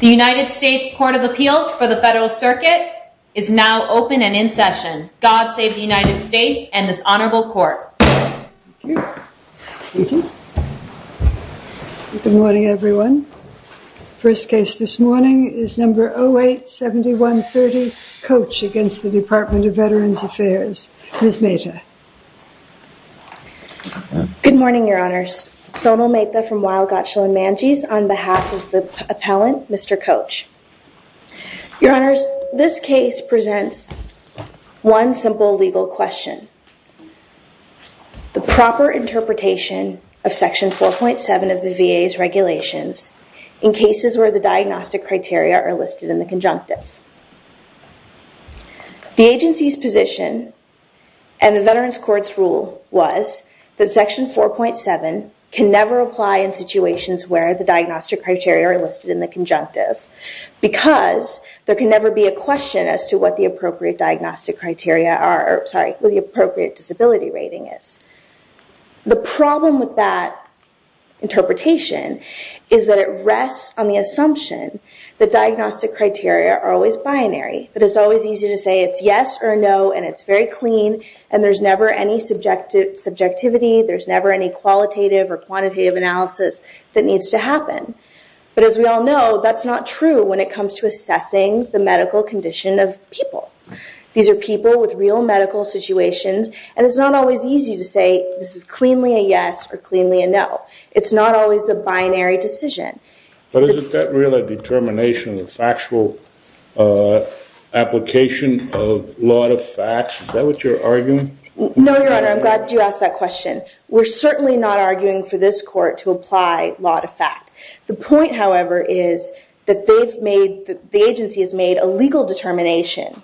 The United States Court of Appeals for the Federal Circuit is now open and in session. God save the United States and this honorable court. Good morning everyone. First case this morning is number 08-7130 Coach against the Department of Veterans Affairs. Ms. Mehta. Good morning, your honors. Sonal Mehta from Weill, Gottschall & Mangese on behalf of the appellant, Mr. Coach. Your honors, this case presents one simple legal question. The proper interpretation of section 4.7 of the VA's regulations in cases where the diagnostic criteria are listed in the conjunctive. The agency's position and the veteran's court's rule was that section 4.7 can never apply in situations where the diagnostic criteria are listed in the conjunctive because there can never be a question as to what the appropriate diagnostic criteria are, sorry, what the appropriate disability rating is. The problem with that interpretation is that it rests on the assumption that diagnostic criteria are always binary, that it's always easy to say it's yes or no and it's very clean and there's never any subjectivity, there's never any qualitative or quantitative analysis that needs to happen. But as we all know, that's not true when it comes to assessing the medical condition of people. These are people with real medical situations and it's not always easy to say this is cleanly a yes or cleanly a no. It's not always a binary decision. But isn't that really a determination of factual application of law to facts? Is that what you're arguing? No, Your Honor, I'm glad you asked that question. We're certainly not arguing for this court to apply law to fact. The point, however, is that the agency has made a legal determination,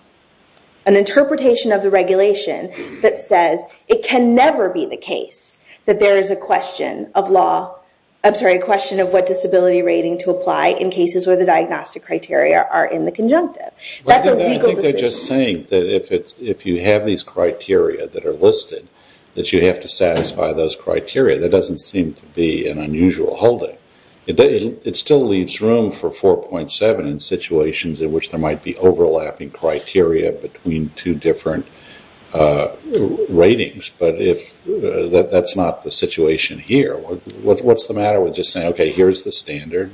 an interpretation of the regulation that says it can never be the case that there is a question of law, I'm sorry, a question of what disability rating to apply in cases where the diagnostic criteria are in the conjunctive. That's a legal decision. I think they're just saying that if you have these criteria that are listed, that you have to satisfy those criteria. That doesn't seem to be an unusual holding. It still leaves room for 4.7 in situations in which there might be overlapping criteria between two different ratings. But that's not the situation here. What's the matter with just saying, OK, here's the standard,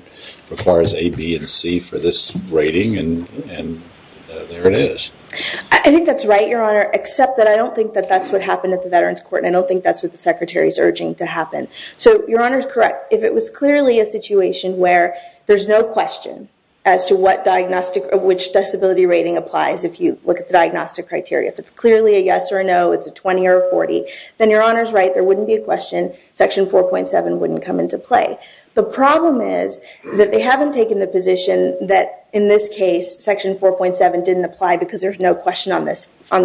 requires A, B, and C for this rating, and there it is? I think that's right, Your Honor, except that I don't think that that's what happened at the Veterans Court and I don't think that's what the Secretary is urging to happen. So Your Honor's correct. If it was clearly a situation where there's no question as to what disability rating applies, if you look at the diagnostic criteria, if it's clearly a yes or a no, it's a 20 or a 40, then Your Honor's right. There wouldn't be a question. Section 4.7 wouldn't come into play. The problem is that they haven't taken the position that in this case, Section 4.7 didn't apply because there's no question on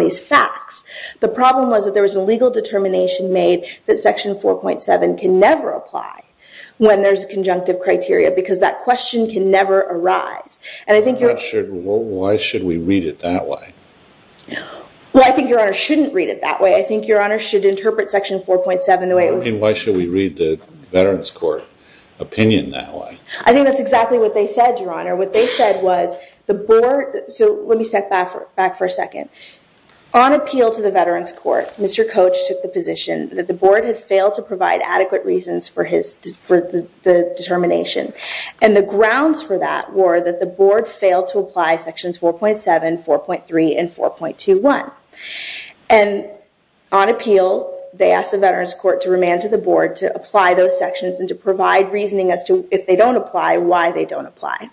these facts. The problem was that there was a legal determination made that Section 4.7 can never apply when there's conjunctive criteria because that question can never arise. Why should we read it that way? Well, I think Your Honor shouldn't read it that way. I think Your Honor should interpret Section 4.7 the way it was. Why should we read the Veterans Court opinion that way? I think that's exactly what they said, Your Honor. What they said was the board... So let me step back for a second. On appeal to the Veterans Court, Mr. Coach took the position that the board had failed to provide adequate reasons for the determination. The grounds for that were that the board failed to apply Sections 4.7, 4.3, and 4.21. On appeal, they asked the Veterans Court to remand to the board to apply those sections and to provide reasoning as to if they don't apply, why they don't apply.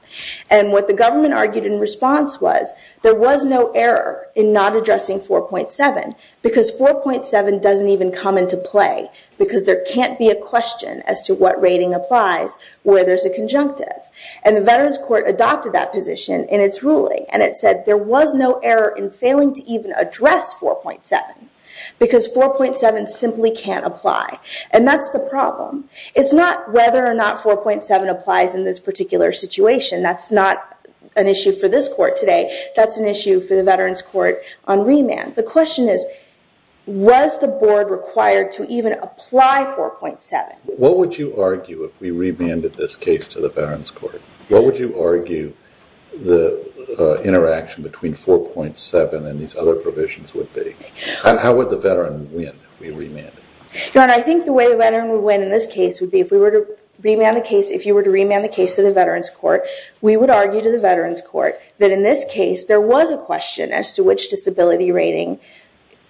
What the government argued in response was there was no error in not addressing 4.7 because 4.7 doesn't even come into play because there can't be a question as to what rating applies where there's a conjunctive. The Veterans Court adopted that position in its ruling. It said there was no error in failing to even address 4.7 because 4.7 simply can't apply. That's the problem. It's not whether or not 4.7 applies in this particular situation. That's not an issue for this court today. That's an issue for the Veterans Court on remand. The question is, was the board required to even apply 4.7? What would you argue if we remanded this case to the Veterans Court? What would you argue the interaction between 4.7 and these other provisions would be? How would the veteran win if we remanded? I think the way the veteran would win in this case would be if we were to remand the case, if you were to remand the case to the Veterans Court, we would argue to the Veterans Court that in this case, there was a question as to which disability rating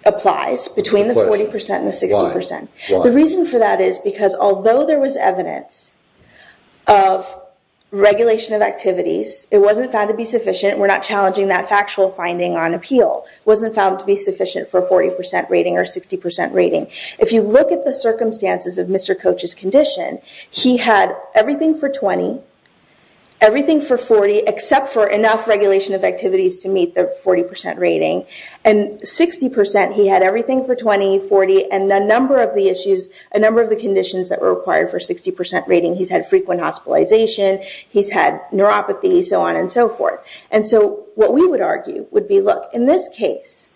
applies between the 40% and the 60%. The reason for that is because although there was evidence of regulation of activities, it wasn't found to be sufficient. We're not challenging that factual finding on appeal. It wasn't found to be sufficient for a 40% rating or 60% rating. If you look at the circumstances of Mr. Coach's condition, he had everything for 20, everything for 40, except for enough regulation of activities to 40% rating. 60%, he had everything for 20, 40, and a number of the issues, a number of the conditions that were required for 60% rating. He's had frequent hospitalization. He's had neuropathy, so on and so forth. What we would argue would be, look, in this case,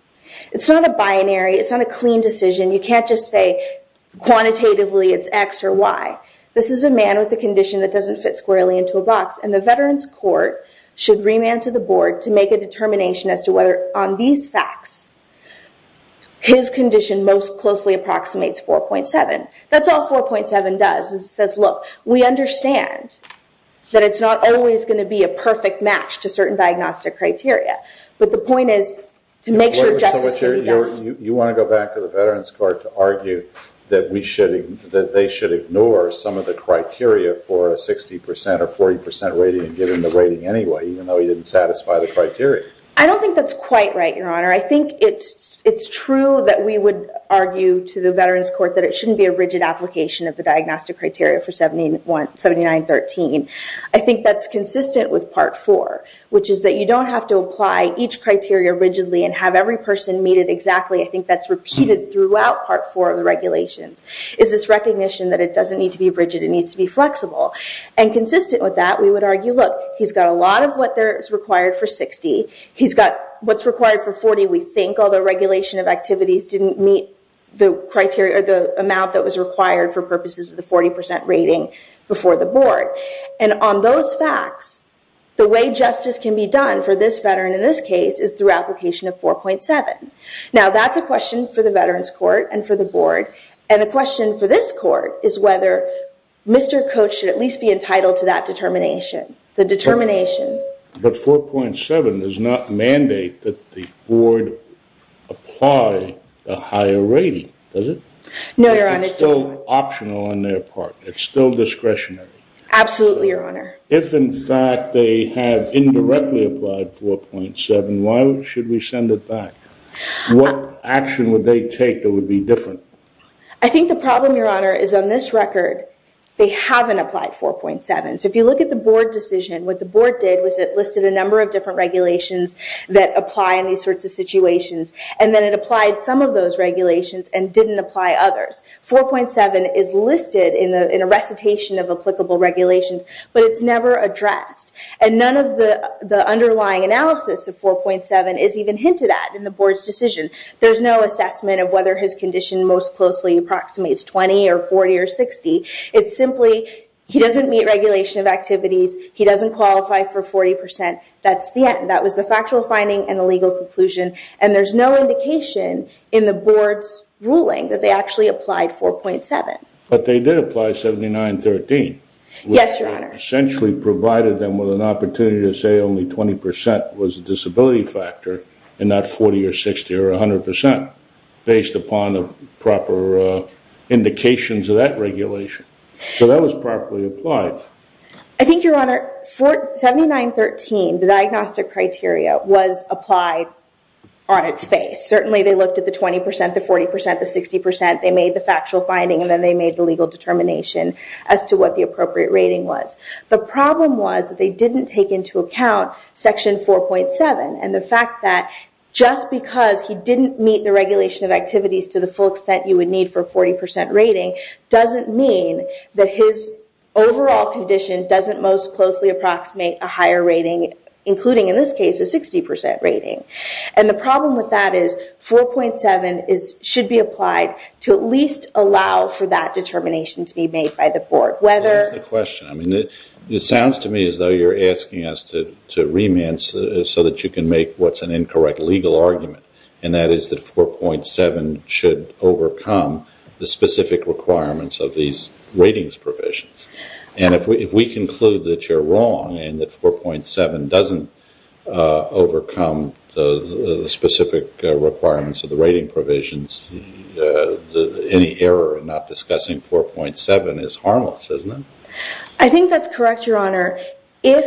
it's not a binary. It's not a clean decision. You can't just say quantitatively it's X or Y. This is a man with a condition that doesn't fit squarely into a box. The Veterans Court should remand to the on these facts, his condition most closely approximates 4.7. That's all 4.7 does. It says, look, we understand that it's not always going to be a perfect match to certain diagnostic criteria, but the point is to make sure justice can be done. You want to go back to the Veterans Court to argue that they should ignore some of the criteria for a 60% or 40% rating and he didn't satisfy the criteria. I don't think that's quite right, Your Honor. I think it's true that we would argue to the Veterans Court that it shouldn't be a rigid application of the diagnostic criteria for 79.13. I think that's consistent with Part 4, which is that you don't have to apply each criteria rigidly and have every person meet it exactly. I think that's repeated throughout Part 4 of the regulations, is this recognition that it doesn't need to be rigid. It needs to be flexible. Consistent with that, we would argue, look, he's got a lot of what is required for 60. He's got what's required for 40, we think, although regulation of activities didn't meet the amount that was required for purposes of the 40% rating before the board. And on those facts, the way justice can be done for this veteran in this case is through application of 4.7. Now, that's a question for the Veterans Court and for the board. And the question for this court is whether Mr. Coach should at least be entitled to that the determination. But 4.7 does not mandate that the board apply a higher rating, does it? No, Your Honor. It's still optional on their part. It's still discretionary. Absolutely, Your Honor. If, in fact, they have indirectly applied 4.7, why should we send it back? What action would they take that would be different? I think the problem, Your Honor, is on this record, they haven't applied 4.7. So if you look at the board decision, what the board did was it listed a number of different regulations that apply in these sorts of situations. And then it applied some of those regulations and didn't apply others. 4.7 is listed in a recitation of applicable regulations, but it's never addressed. And none of the underlying analysis of 4.7 is even hinted at in the board's decision. There's no assessment of whether his condition most closely approximates 20 or 40 or 60. It's simply he doesn't meet regulation of activities. He doesn't qualify for 40%. That's the end. That was the factual finding and the legal conclusion. And there's no indication in the board's ruling that they actually applied 4.7. But they did apply 79.13. Yes, Your Honor. Which essentially provided them with an opportunity to say only 20% was a disability factor and not 40% or 60% or 100% based upon the proper indications of that regulation. So that was properly applied. I think, Your Honor, 79.13, the diagnostic criteria, was applied on its face. Certainly, they looked at the 20%, the 40%, the 60%. They made the factual finding, and then they made the legal determination as to what the appropriate rating was. The problem was that they didn't take into account Section 4.7 and the fact that just because he didn't meet the regulation of activities to the full extent you would need for 40% rating doesn't mean that his overall condition doesn't most closely approximate a higher rating, including in this case, a 60% rating. And the problem with that is 4.7 should be applied to at least allow for that determination to be made by the board. That's the question. It sounds to me as though you're asking us to remand so that you can make what's an incorrect legal argument, and that is that 4.7 should overcome the specific requirements of these ratings provisions. And if we conclude that you're wrong and that 4.7 doesn't overcome the specific requirements of the rating provisions, any error in not discussing 4.7 is harmless, isn't it? I think that's correct, Your Honor. If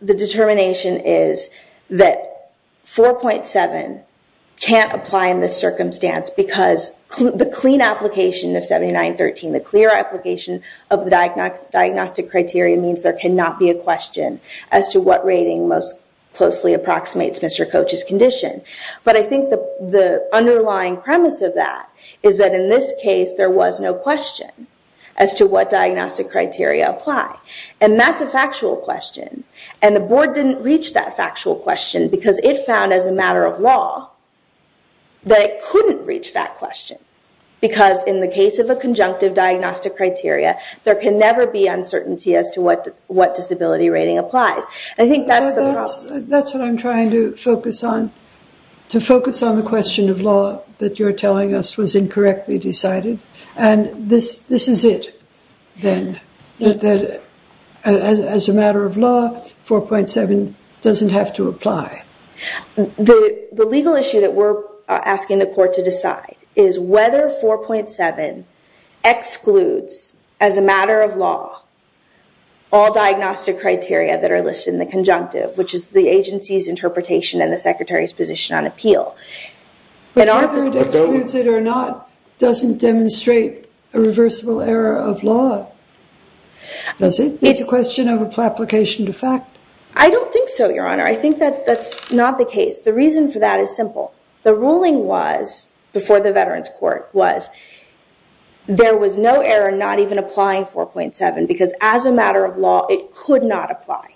the determination is that 4.7 can't apply in this circumstance because the clean application of 79.13, the clear application of the diagnostic criteria means there cannot be a question as to what rating most closely approximates Mr. Koch's condition. But I think the underlying premise of that is that in this case, there was no question as to what diagnostic criteria apply. And that's a factual question. And the board didn't reach that factual question because it found as a matter of law that it couldn't reach that question. Because in the case of a conjunctive diagnostic criteria, there can never be uncertainty as to what disability rating applies. I think that's the problem. That's what I'm trying to focus on, to focus on the question of law that you're telling us was incorrectly decided. And this is it then, that as a matter of law, 4.7 doesn't have to apply. The legal issue that we're asking the court to decide is whether 4.7 excludes as a matter of law all diagnostic criteria that are listed in the conjunctive, which is the agency's interpretation and the secretary's position on appeal. Whether it excludes it or not doesn't demonstrate a reversible error of law, does it? It's a question of application to fact. I don't think so, Your Honor. I think that that's not the case. The reason for that is simple. The ruling was, before the Veterans Court, was there was no error not even applying 4.7 because as a matter of law, it could not apply.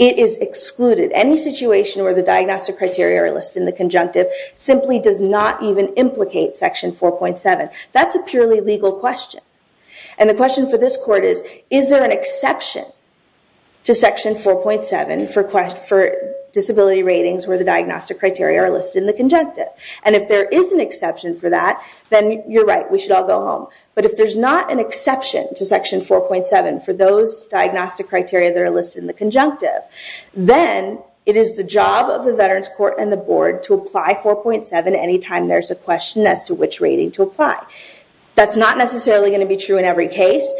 It is excluded. Any situation where the diagnostic criteria are listed in the conjunctive simply does not even implicate Section 4.7. That's a purely legal question. And the question for this court is, is there an exception to Section 4.7 for disability ratings where the diagnostic criteria are listed in the conjunctive? And if there is an exception for that, then you're right. We should all go home. But if there's not an exception to Section 4.7 for those diagnostic criteria that are listed in the conjunctive, then it is the job of the Veterans Court and the board to apply 4.7 anytime there's a question as to which rating to apply. That's not necessarily going to be true in every case.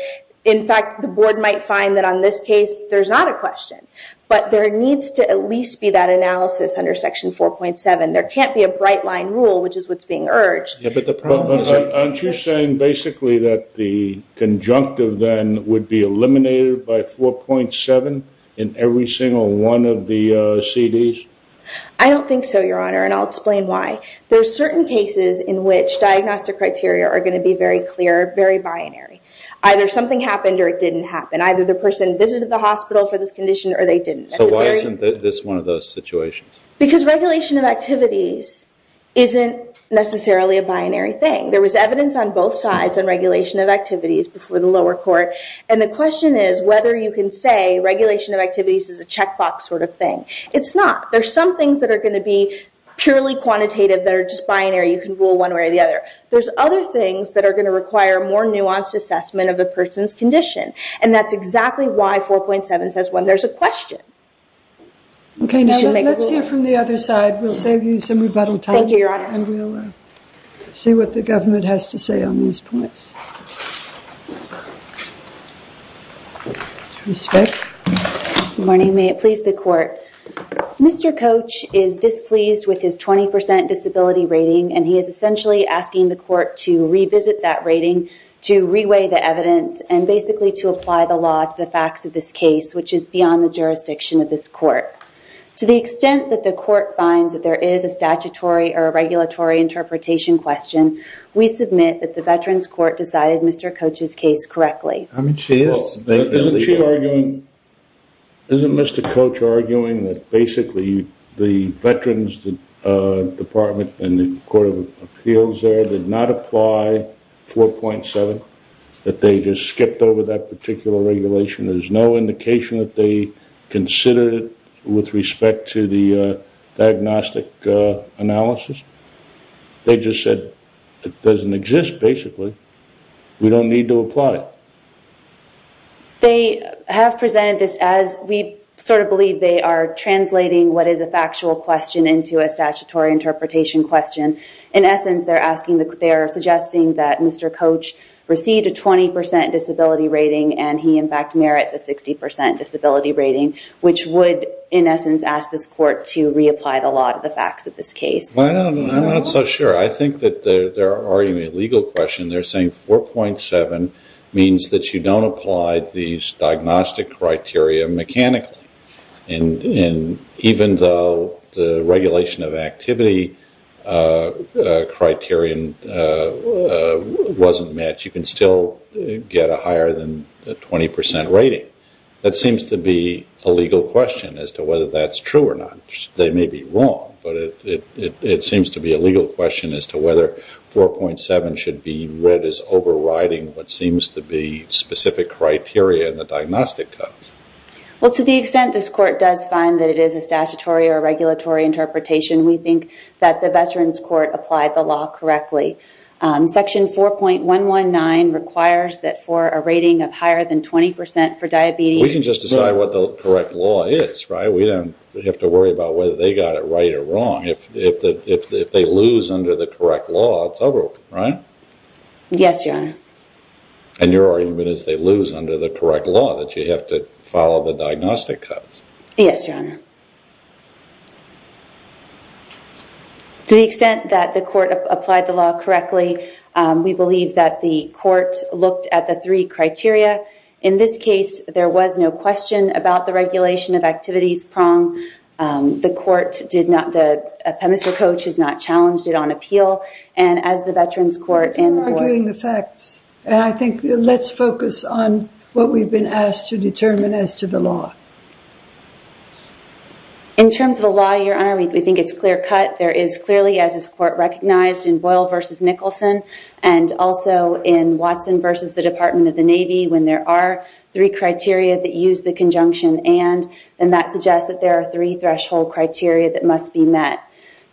In fact, the board might find that on this case, there's not a question. But there needs to at least be that analysis under Section 4.7. There can't be a bright line rule, which is what's being urged. Aren't you saying basically that the conjunctive then would be eliminated by 4.7 in every single one of the CDs? I don't think so, Your Honor, and I'll explain why. There's certain cases in which diagnostic criteria are going to be very clear, very binary. Either something happened or it didn't happen. Either the person visited the hospital for this condition or they didn't. So why isn't this one of those situations? Because regulation of activities isn't necessarily a binary thing. There was evidence on both sides on regulation of activities before the lower court. And the question is whether you can say regulation of activities is a checkbox sort of thing. It's not. There's some things that are going to be just binary. You can rule one way or the other. There's other things that are going to require more nuanced assessment of the person's condition. And that's exactly why 4.7 says when there's a question, you should make a ruling. Let's hear from the other side. We'll save you some rebuttal time. Thank you, Your Honor. And we'll see what the government has to say on these points. Good morning. May it please the court. Mr. Coach is displeased with his 20% disability rating and he is essentially asking the court to revisit that rating, to reweigh the evidence, and basically to apply the law to the facts of this case, which is beyond the jurisdiction of this court. To the extent that the court finds that there is a statutory or a regulatory interpretation question, Mr. Coach's case correctly. I mean, she is. Isn't Mr. Coach arguing that basically the Veterans Department and the Court of Appeals there did not apply 4.7? That they just skipped over that particular regulation? There's no indication that they considered it with respect to the diagnostic analysis? They just said it doesn't exist, basically. We don't need to apply it. They have presented this as we sort of believe they are translating what is a factual question into a statutory interpretation question. In essence, they're suggesting that Mr. Coach received a 20% disability rating and he in fact merits a 60% disability rating, which would in essence ask this court to reapply the law to the facts of this case. I'm not so sure. I think that they're arguing a legal question. They're saying 4.7 means that you don't apply these diagnostic criteria mechanically. And even though the regulation of activity criterion wasn't met, you can still get a higher than 20% rating. That seems to be a legal question as to whether that's true or not. They may be wrong, but it seems to be a legal question as to whether 4.7 should be read as overriding what seems to be specific criteria in the diagnostic cuts. Well, to the extent this court does find that it is a statutory or regulatory interpretation, we think that the Veterans Court applied the law correctly. Section 4.119 requires that for a rating of higher than 20% for diabetes- We can just decide what the correct law is, right? We don't have to worry about whether they got it right or wrong. If they lose under the correct law, it's over, right? Yes, Your Honor. And your argument is they lose under the correct law that you have to follow the diagnostic cuts. Yes, Your Honor. To the extent that the court looked at the three criteria, in this case, there was no question about the regulation of activities prong. The court did not- Mr. Coach has not challenged it on appeal. And as the Veterans Court- We're arguing the facts. And I think let's focus on what we've been asked to determine as to the law. In terms of the law, Your Honor, we think it's clear cut. There is clearly, as this court recognized in Boyle versus Nicholson, and also in Watson versus the Department of the Navy, when there are three criteria that use the conjunction and, then that suggests that there are three threshold criteria that must be met.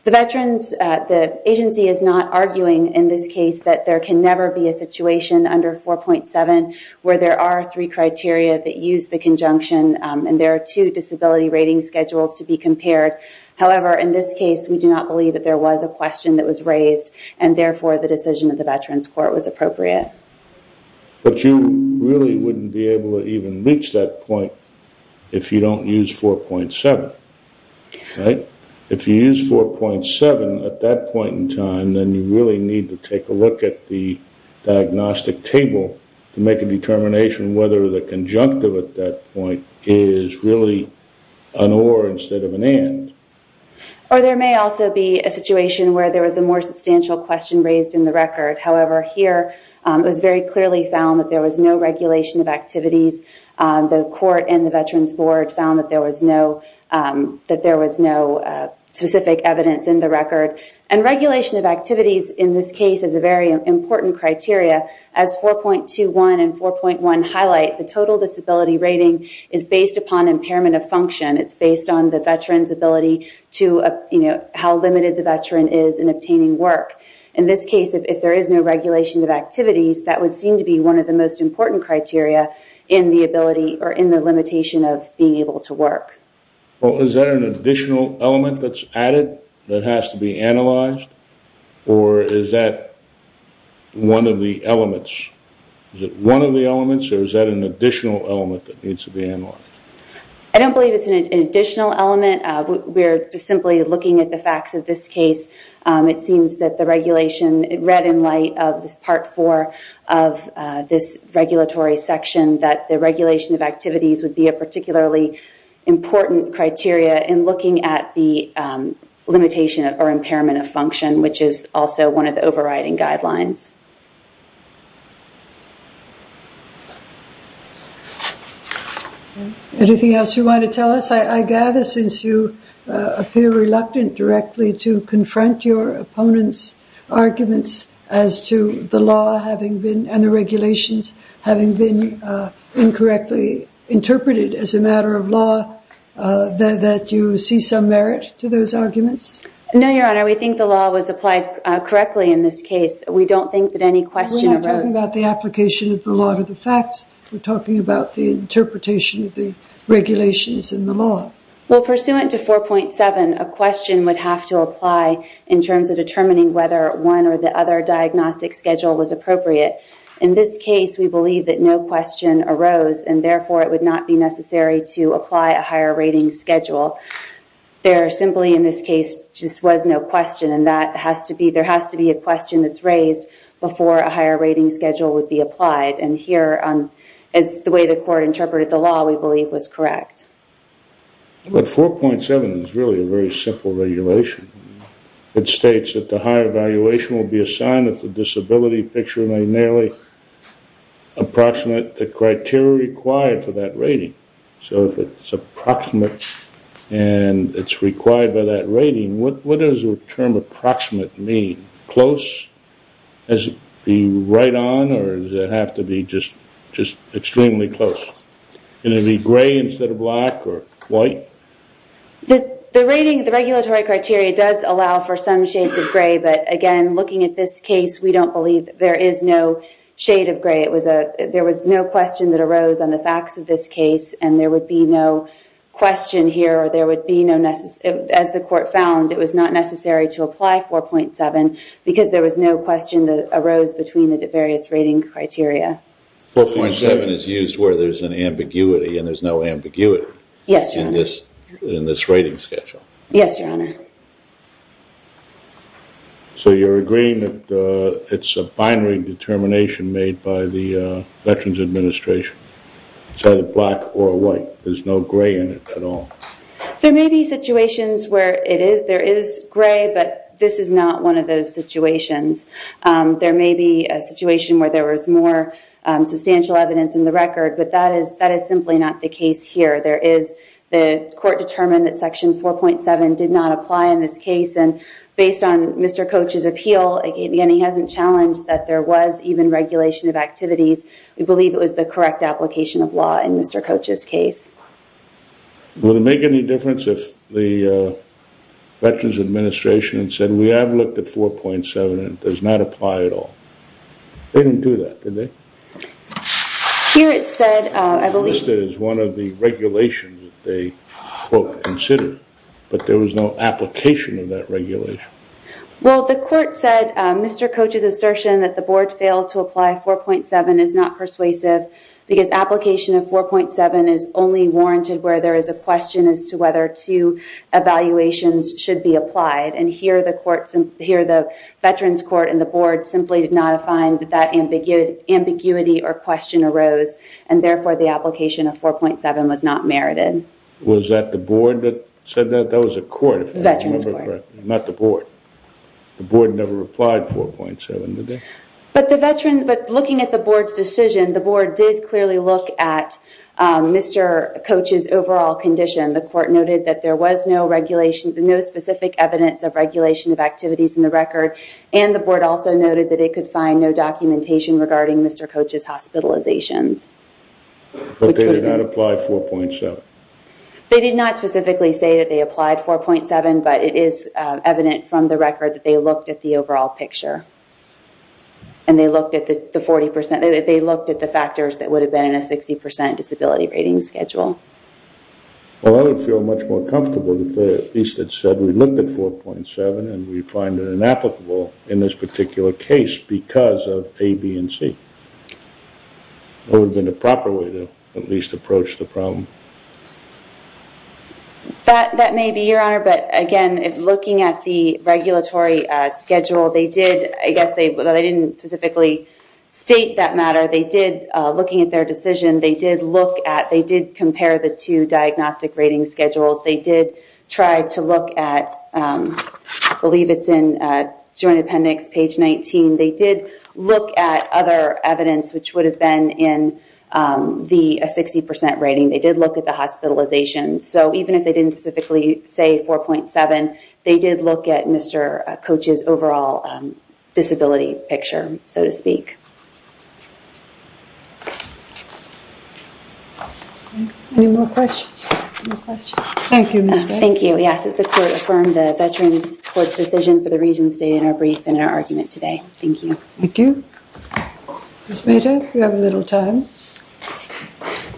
The agency is not arguing in this case that there can never be a situation under 4.7 where there are three criteria that use the conjunction and there are two disability rating schedules to be compared. However, in this case, we do not believe that there was a question that was raised and, therefore, the decision of the Veterans Court was appropriate. But you really wouldn't be able to even reach that point if you don't use 4.7, right? If you use 4.7 at that point in time, then you really need to take a look at the diagnostic table to make a determination whether the conjunctive at that point is really an or instead of an and. Or there may also be a situation where there was a more substantial question raised in the record. However, here it was very clearly found that there was no regulation of activities. The court and the Veterans Board found that there was no specific evidence in the record. And regulation of activities in this case is a very important criteria. As 4.21 and 4.1 highlight, the total disability rating is based upon impairment of function. It's based on the disability to, you know, how limited the Veteran is in obtaining work. In this case, if there is no regulation of activities, that would seem to be one of the most important criteria in the ability or in the limitation of being able to work. Well, is that an additional element that's added that has to be analyzed or is that one of the elements? Is it one of the elements or is that an additional element that needs to be analyzed? I don't believe it's an additional element. We're just simply looking at the facts of this case. It seems that the regulation read in light of this Part 4 of this regulatory section that the regulation of activities would be a particularly important criteria in looking at the limitation or impairment of function, which is also one of the overriding guidelines. Anything else you want to tell us? I gather since you appear reluctant directly to confront your opponent's arguments as to the law having been and the regulations having been incorrectly interpreted as a matter of law, that you see some merit to those arguments? No, Your Honor. We think the law was applied correctly in this case. We don't think it was any question. We're not talking about the application of the law to the facts. We're talking about the interpretation of the regulations in the law. Well, pursuant to 4.7, a question would have to apply in terms of determining whether one or the other diagnostic schedule was appropriate. In this case, we believe that no question arose and therefore it would not be necessary to apply a higher rating schedule. There simply in this case just was no question and that has to be, there has to be a question that's raised before a higher rating schedule would be applied and here is the way the court interpreted the law we believe was correct. But 4.7 is really a very simple regulation. It states that the higher evaluation will be assigned if the disability picture may nearly approximate the criteria required for that rating. So if it's approximate and it's required by that rating, what does the term approximate mean? Close? Does it have to be right on or does it have to be just extremely close? Is it going to be gray instead of black or white? The rating, the regulatory criteria does allow for some shades of gray, but again, looking at this case, we don't believe there is no shade of gray. It was a, there was no question that arose on the facts of this case and there would be no question here or there would be no necessary, as the court found, it was not necessary to apply 4.7 because there was no question that arose between the various rating criteria. 4.7 is used where there's an ambiguity and there's no ambiguity. Yes, your honor. In this, in this rating schedule. Yes, your honor. So you're agreeing that it's a binary determination made by the Veterans Administration. It's either black or white. There's no gray in it at all. There may be situations where it is, there is gray, but this is not one of those situations. There may be a situation where there was more substantial evidence in the record, but that is, that is simply not the case here. There is, the court determined that section 4.7 did not apply in this case. And based on Mr. Coach's appeal, again, he hasn't challenged that there was even regulation of activities. We believe it was the correct application of law in Mr. Coach's case. Will it make any difference if the Veterans Administration said, we have looked at 4.7 and it does not apply at all? They didn't do that, did they? Here it said, I believe- One of the regulations that they considered, but there was no application of that regulation. Well, the court said, Mr. Coach's assertion that the board failed to apply 4.7 is not persuasive because application of 4.7 is only warranted where there is a question as to whether two evaluations should be applied. And here, the court, here, the Veterans Court and the board simply did not find that that ambiguity or question arose. And therefore, the application of 4.7 was not merited. Was that the board that said that? That was a court. The Veterans Court. Not the board. The board never replied 4.7, did they? But the Veterans, but looking at the board's decision, the board did clearly look at Mr. Coach's overall condition. The court noted that there was no regulation, no specific evidence of regulation of activities in the record. And the board also noted that it could find no documentation regarding Mr. Coach's hospitalizations. But they did not apply 4.7? They did not specifically say that they applied 4.7, but it is evident from the record that they looked at the overall picture. And they looked at the 40%, they looked at the factors that would have been in a 60% disability rating schedule. Well, I would feel much more comfortable if they at least had said, we looked at 4.7 and we find it inapplicable in this particular case because of A, B, and C. That would have been the proper way to at least approach the problem. That may be, Your Honor. But again, looking at the regulatory schedule, they did, I guess they didn't specifically state that matter. They did, looking at their decision, they did look at, they did compare the two diagnostic rating schedules. They did try to look at, I believe it's in Joint Appendix, page 19. They did look at other evidence, which would have been in the 60% rating. They did look at the hospitalizations. So even if they didn't specifically say 4.7, they did look at Mr. Coach's overall disability picture, so to speak. Any more questions? Thank you, Ms. Gray. Thank you. Yes, the court affirmed the Veterans Court's decision for the reasons stated in our brief and in our argument today. Thank you. Thank you. Ms. Mayta, you have a little time.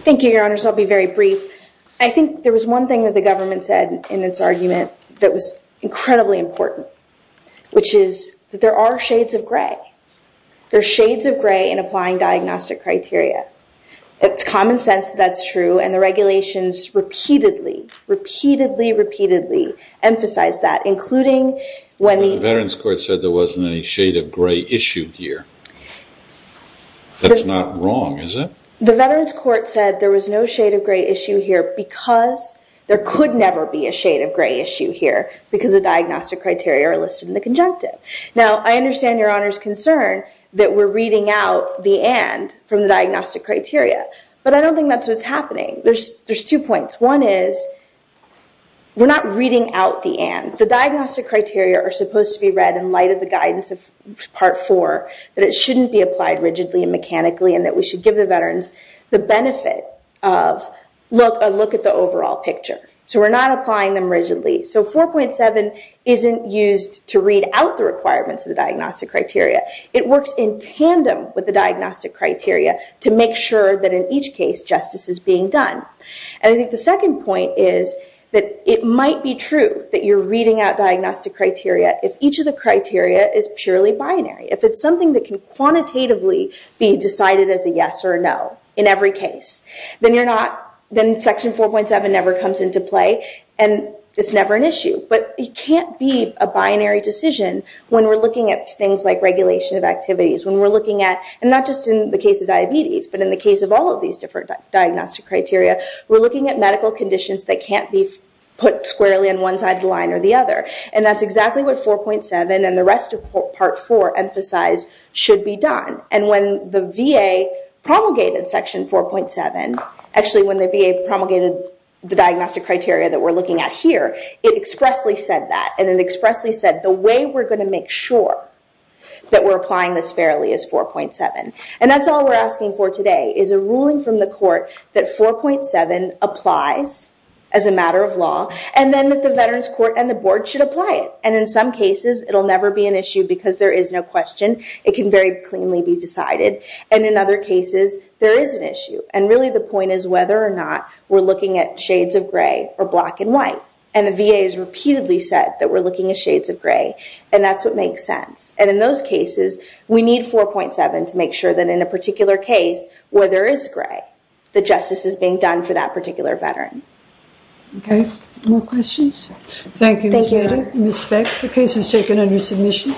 Thank you, Your Honors. I'll be very brief. I think there was one thing that the government said in its argument that was incredibly important, which is that there are shades of gray. There are shades of gray in applying diagnostic criteria. It's common sense that that's true, and the regulations repeatedly, repeatedly, repeatedly emphasized that, including when the- The Veterans Court said there wasn't any shade of gray issue here. That's not wrong, is it? The Veterans Court said there was no shade of gray issue here because there could never be a shade of gray issue here because the diagnostic criteria are listed in the conjunctive. Now, I understand Your Honor's concern that we're reading out the and from the diagnostic criteria, but I don't think that's what's happening. There's two points. One is we're not reading out the and. The diagnostic criteria are supposed to be read in light of the guidance of part four, that it shouldn't be applied rigidly and mechanically, and that we should give the veterans the benefit of a look at the overall picture. We're not applying them rigidly. 4.7 isn't used to read out the requirements of the diagnostic criteria. It works in tandem with the diagnostic criteria to make sure that in each case, justice is being done. The second point is that it might be true that you're reading out diagnostic criteria if each of the criteria is purely binary. If it's something that can quantitatively be decided as a yes or a no in every case, then section 4.7 never comes into play and it's never an issue, but it can't be a binary decision when we're looking at things like regulation of activities. When we're looking at, and not just in the case of diabetes, but in the case of all of these different diagnostic criteria, we're looking at medical conditions that can't be put squarely on one side of the line or the other. That's exactly what 4.7 and the rest of part four emphasize should be done. When the VA promulgated section 4.7, actually, when the VA promulgated the diagnostic criteria that we're looking at here, it expressly said that. It expressly said, the way we're going to make sure that we're applying this fairly is 4.7. That's all we're asking for today is a ruling from the court that 4.7 applies as a matter of law, and then that the veterans court and the board should apply it. In some cases, it'll never be an issue because there is no question. It can very cleanly be decided. In other cases, there is an issue. Really, the point is whether or not we're looking at shades of gray or black and white. The VA has reputedly said that we're looking at shades of gray, and that's what makes sense. In those cases, we need 4.7 to make sure that in a particular case where there is gray, the justice is being done for that particular veteran. Okay. More questions? Thank you, Ms. Bader. Ms. Speck, the case is taken under submission.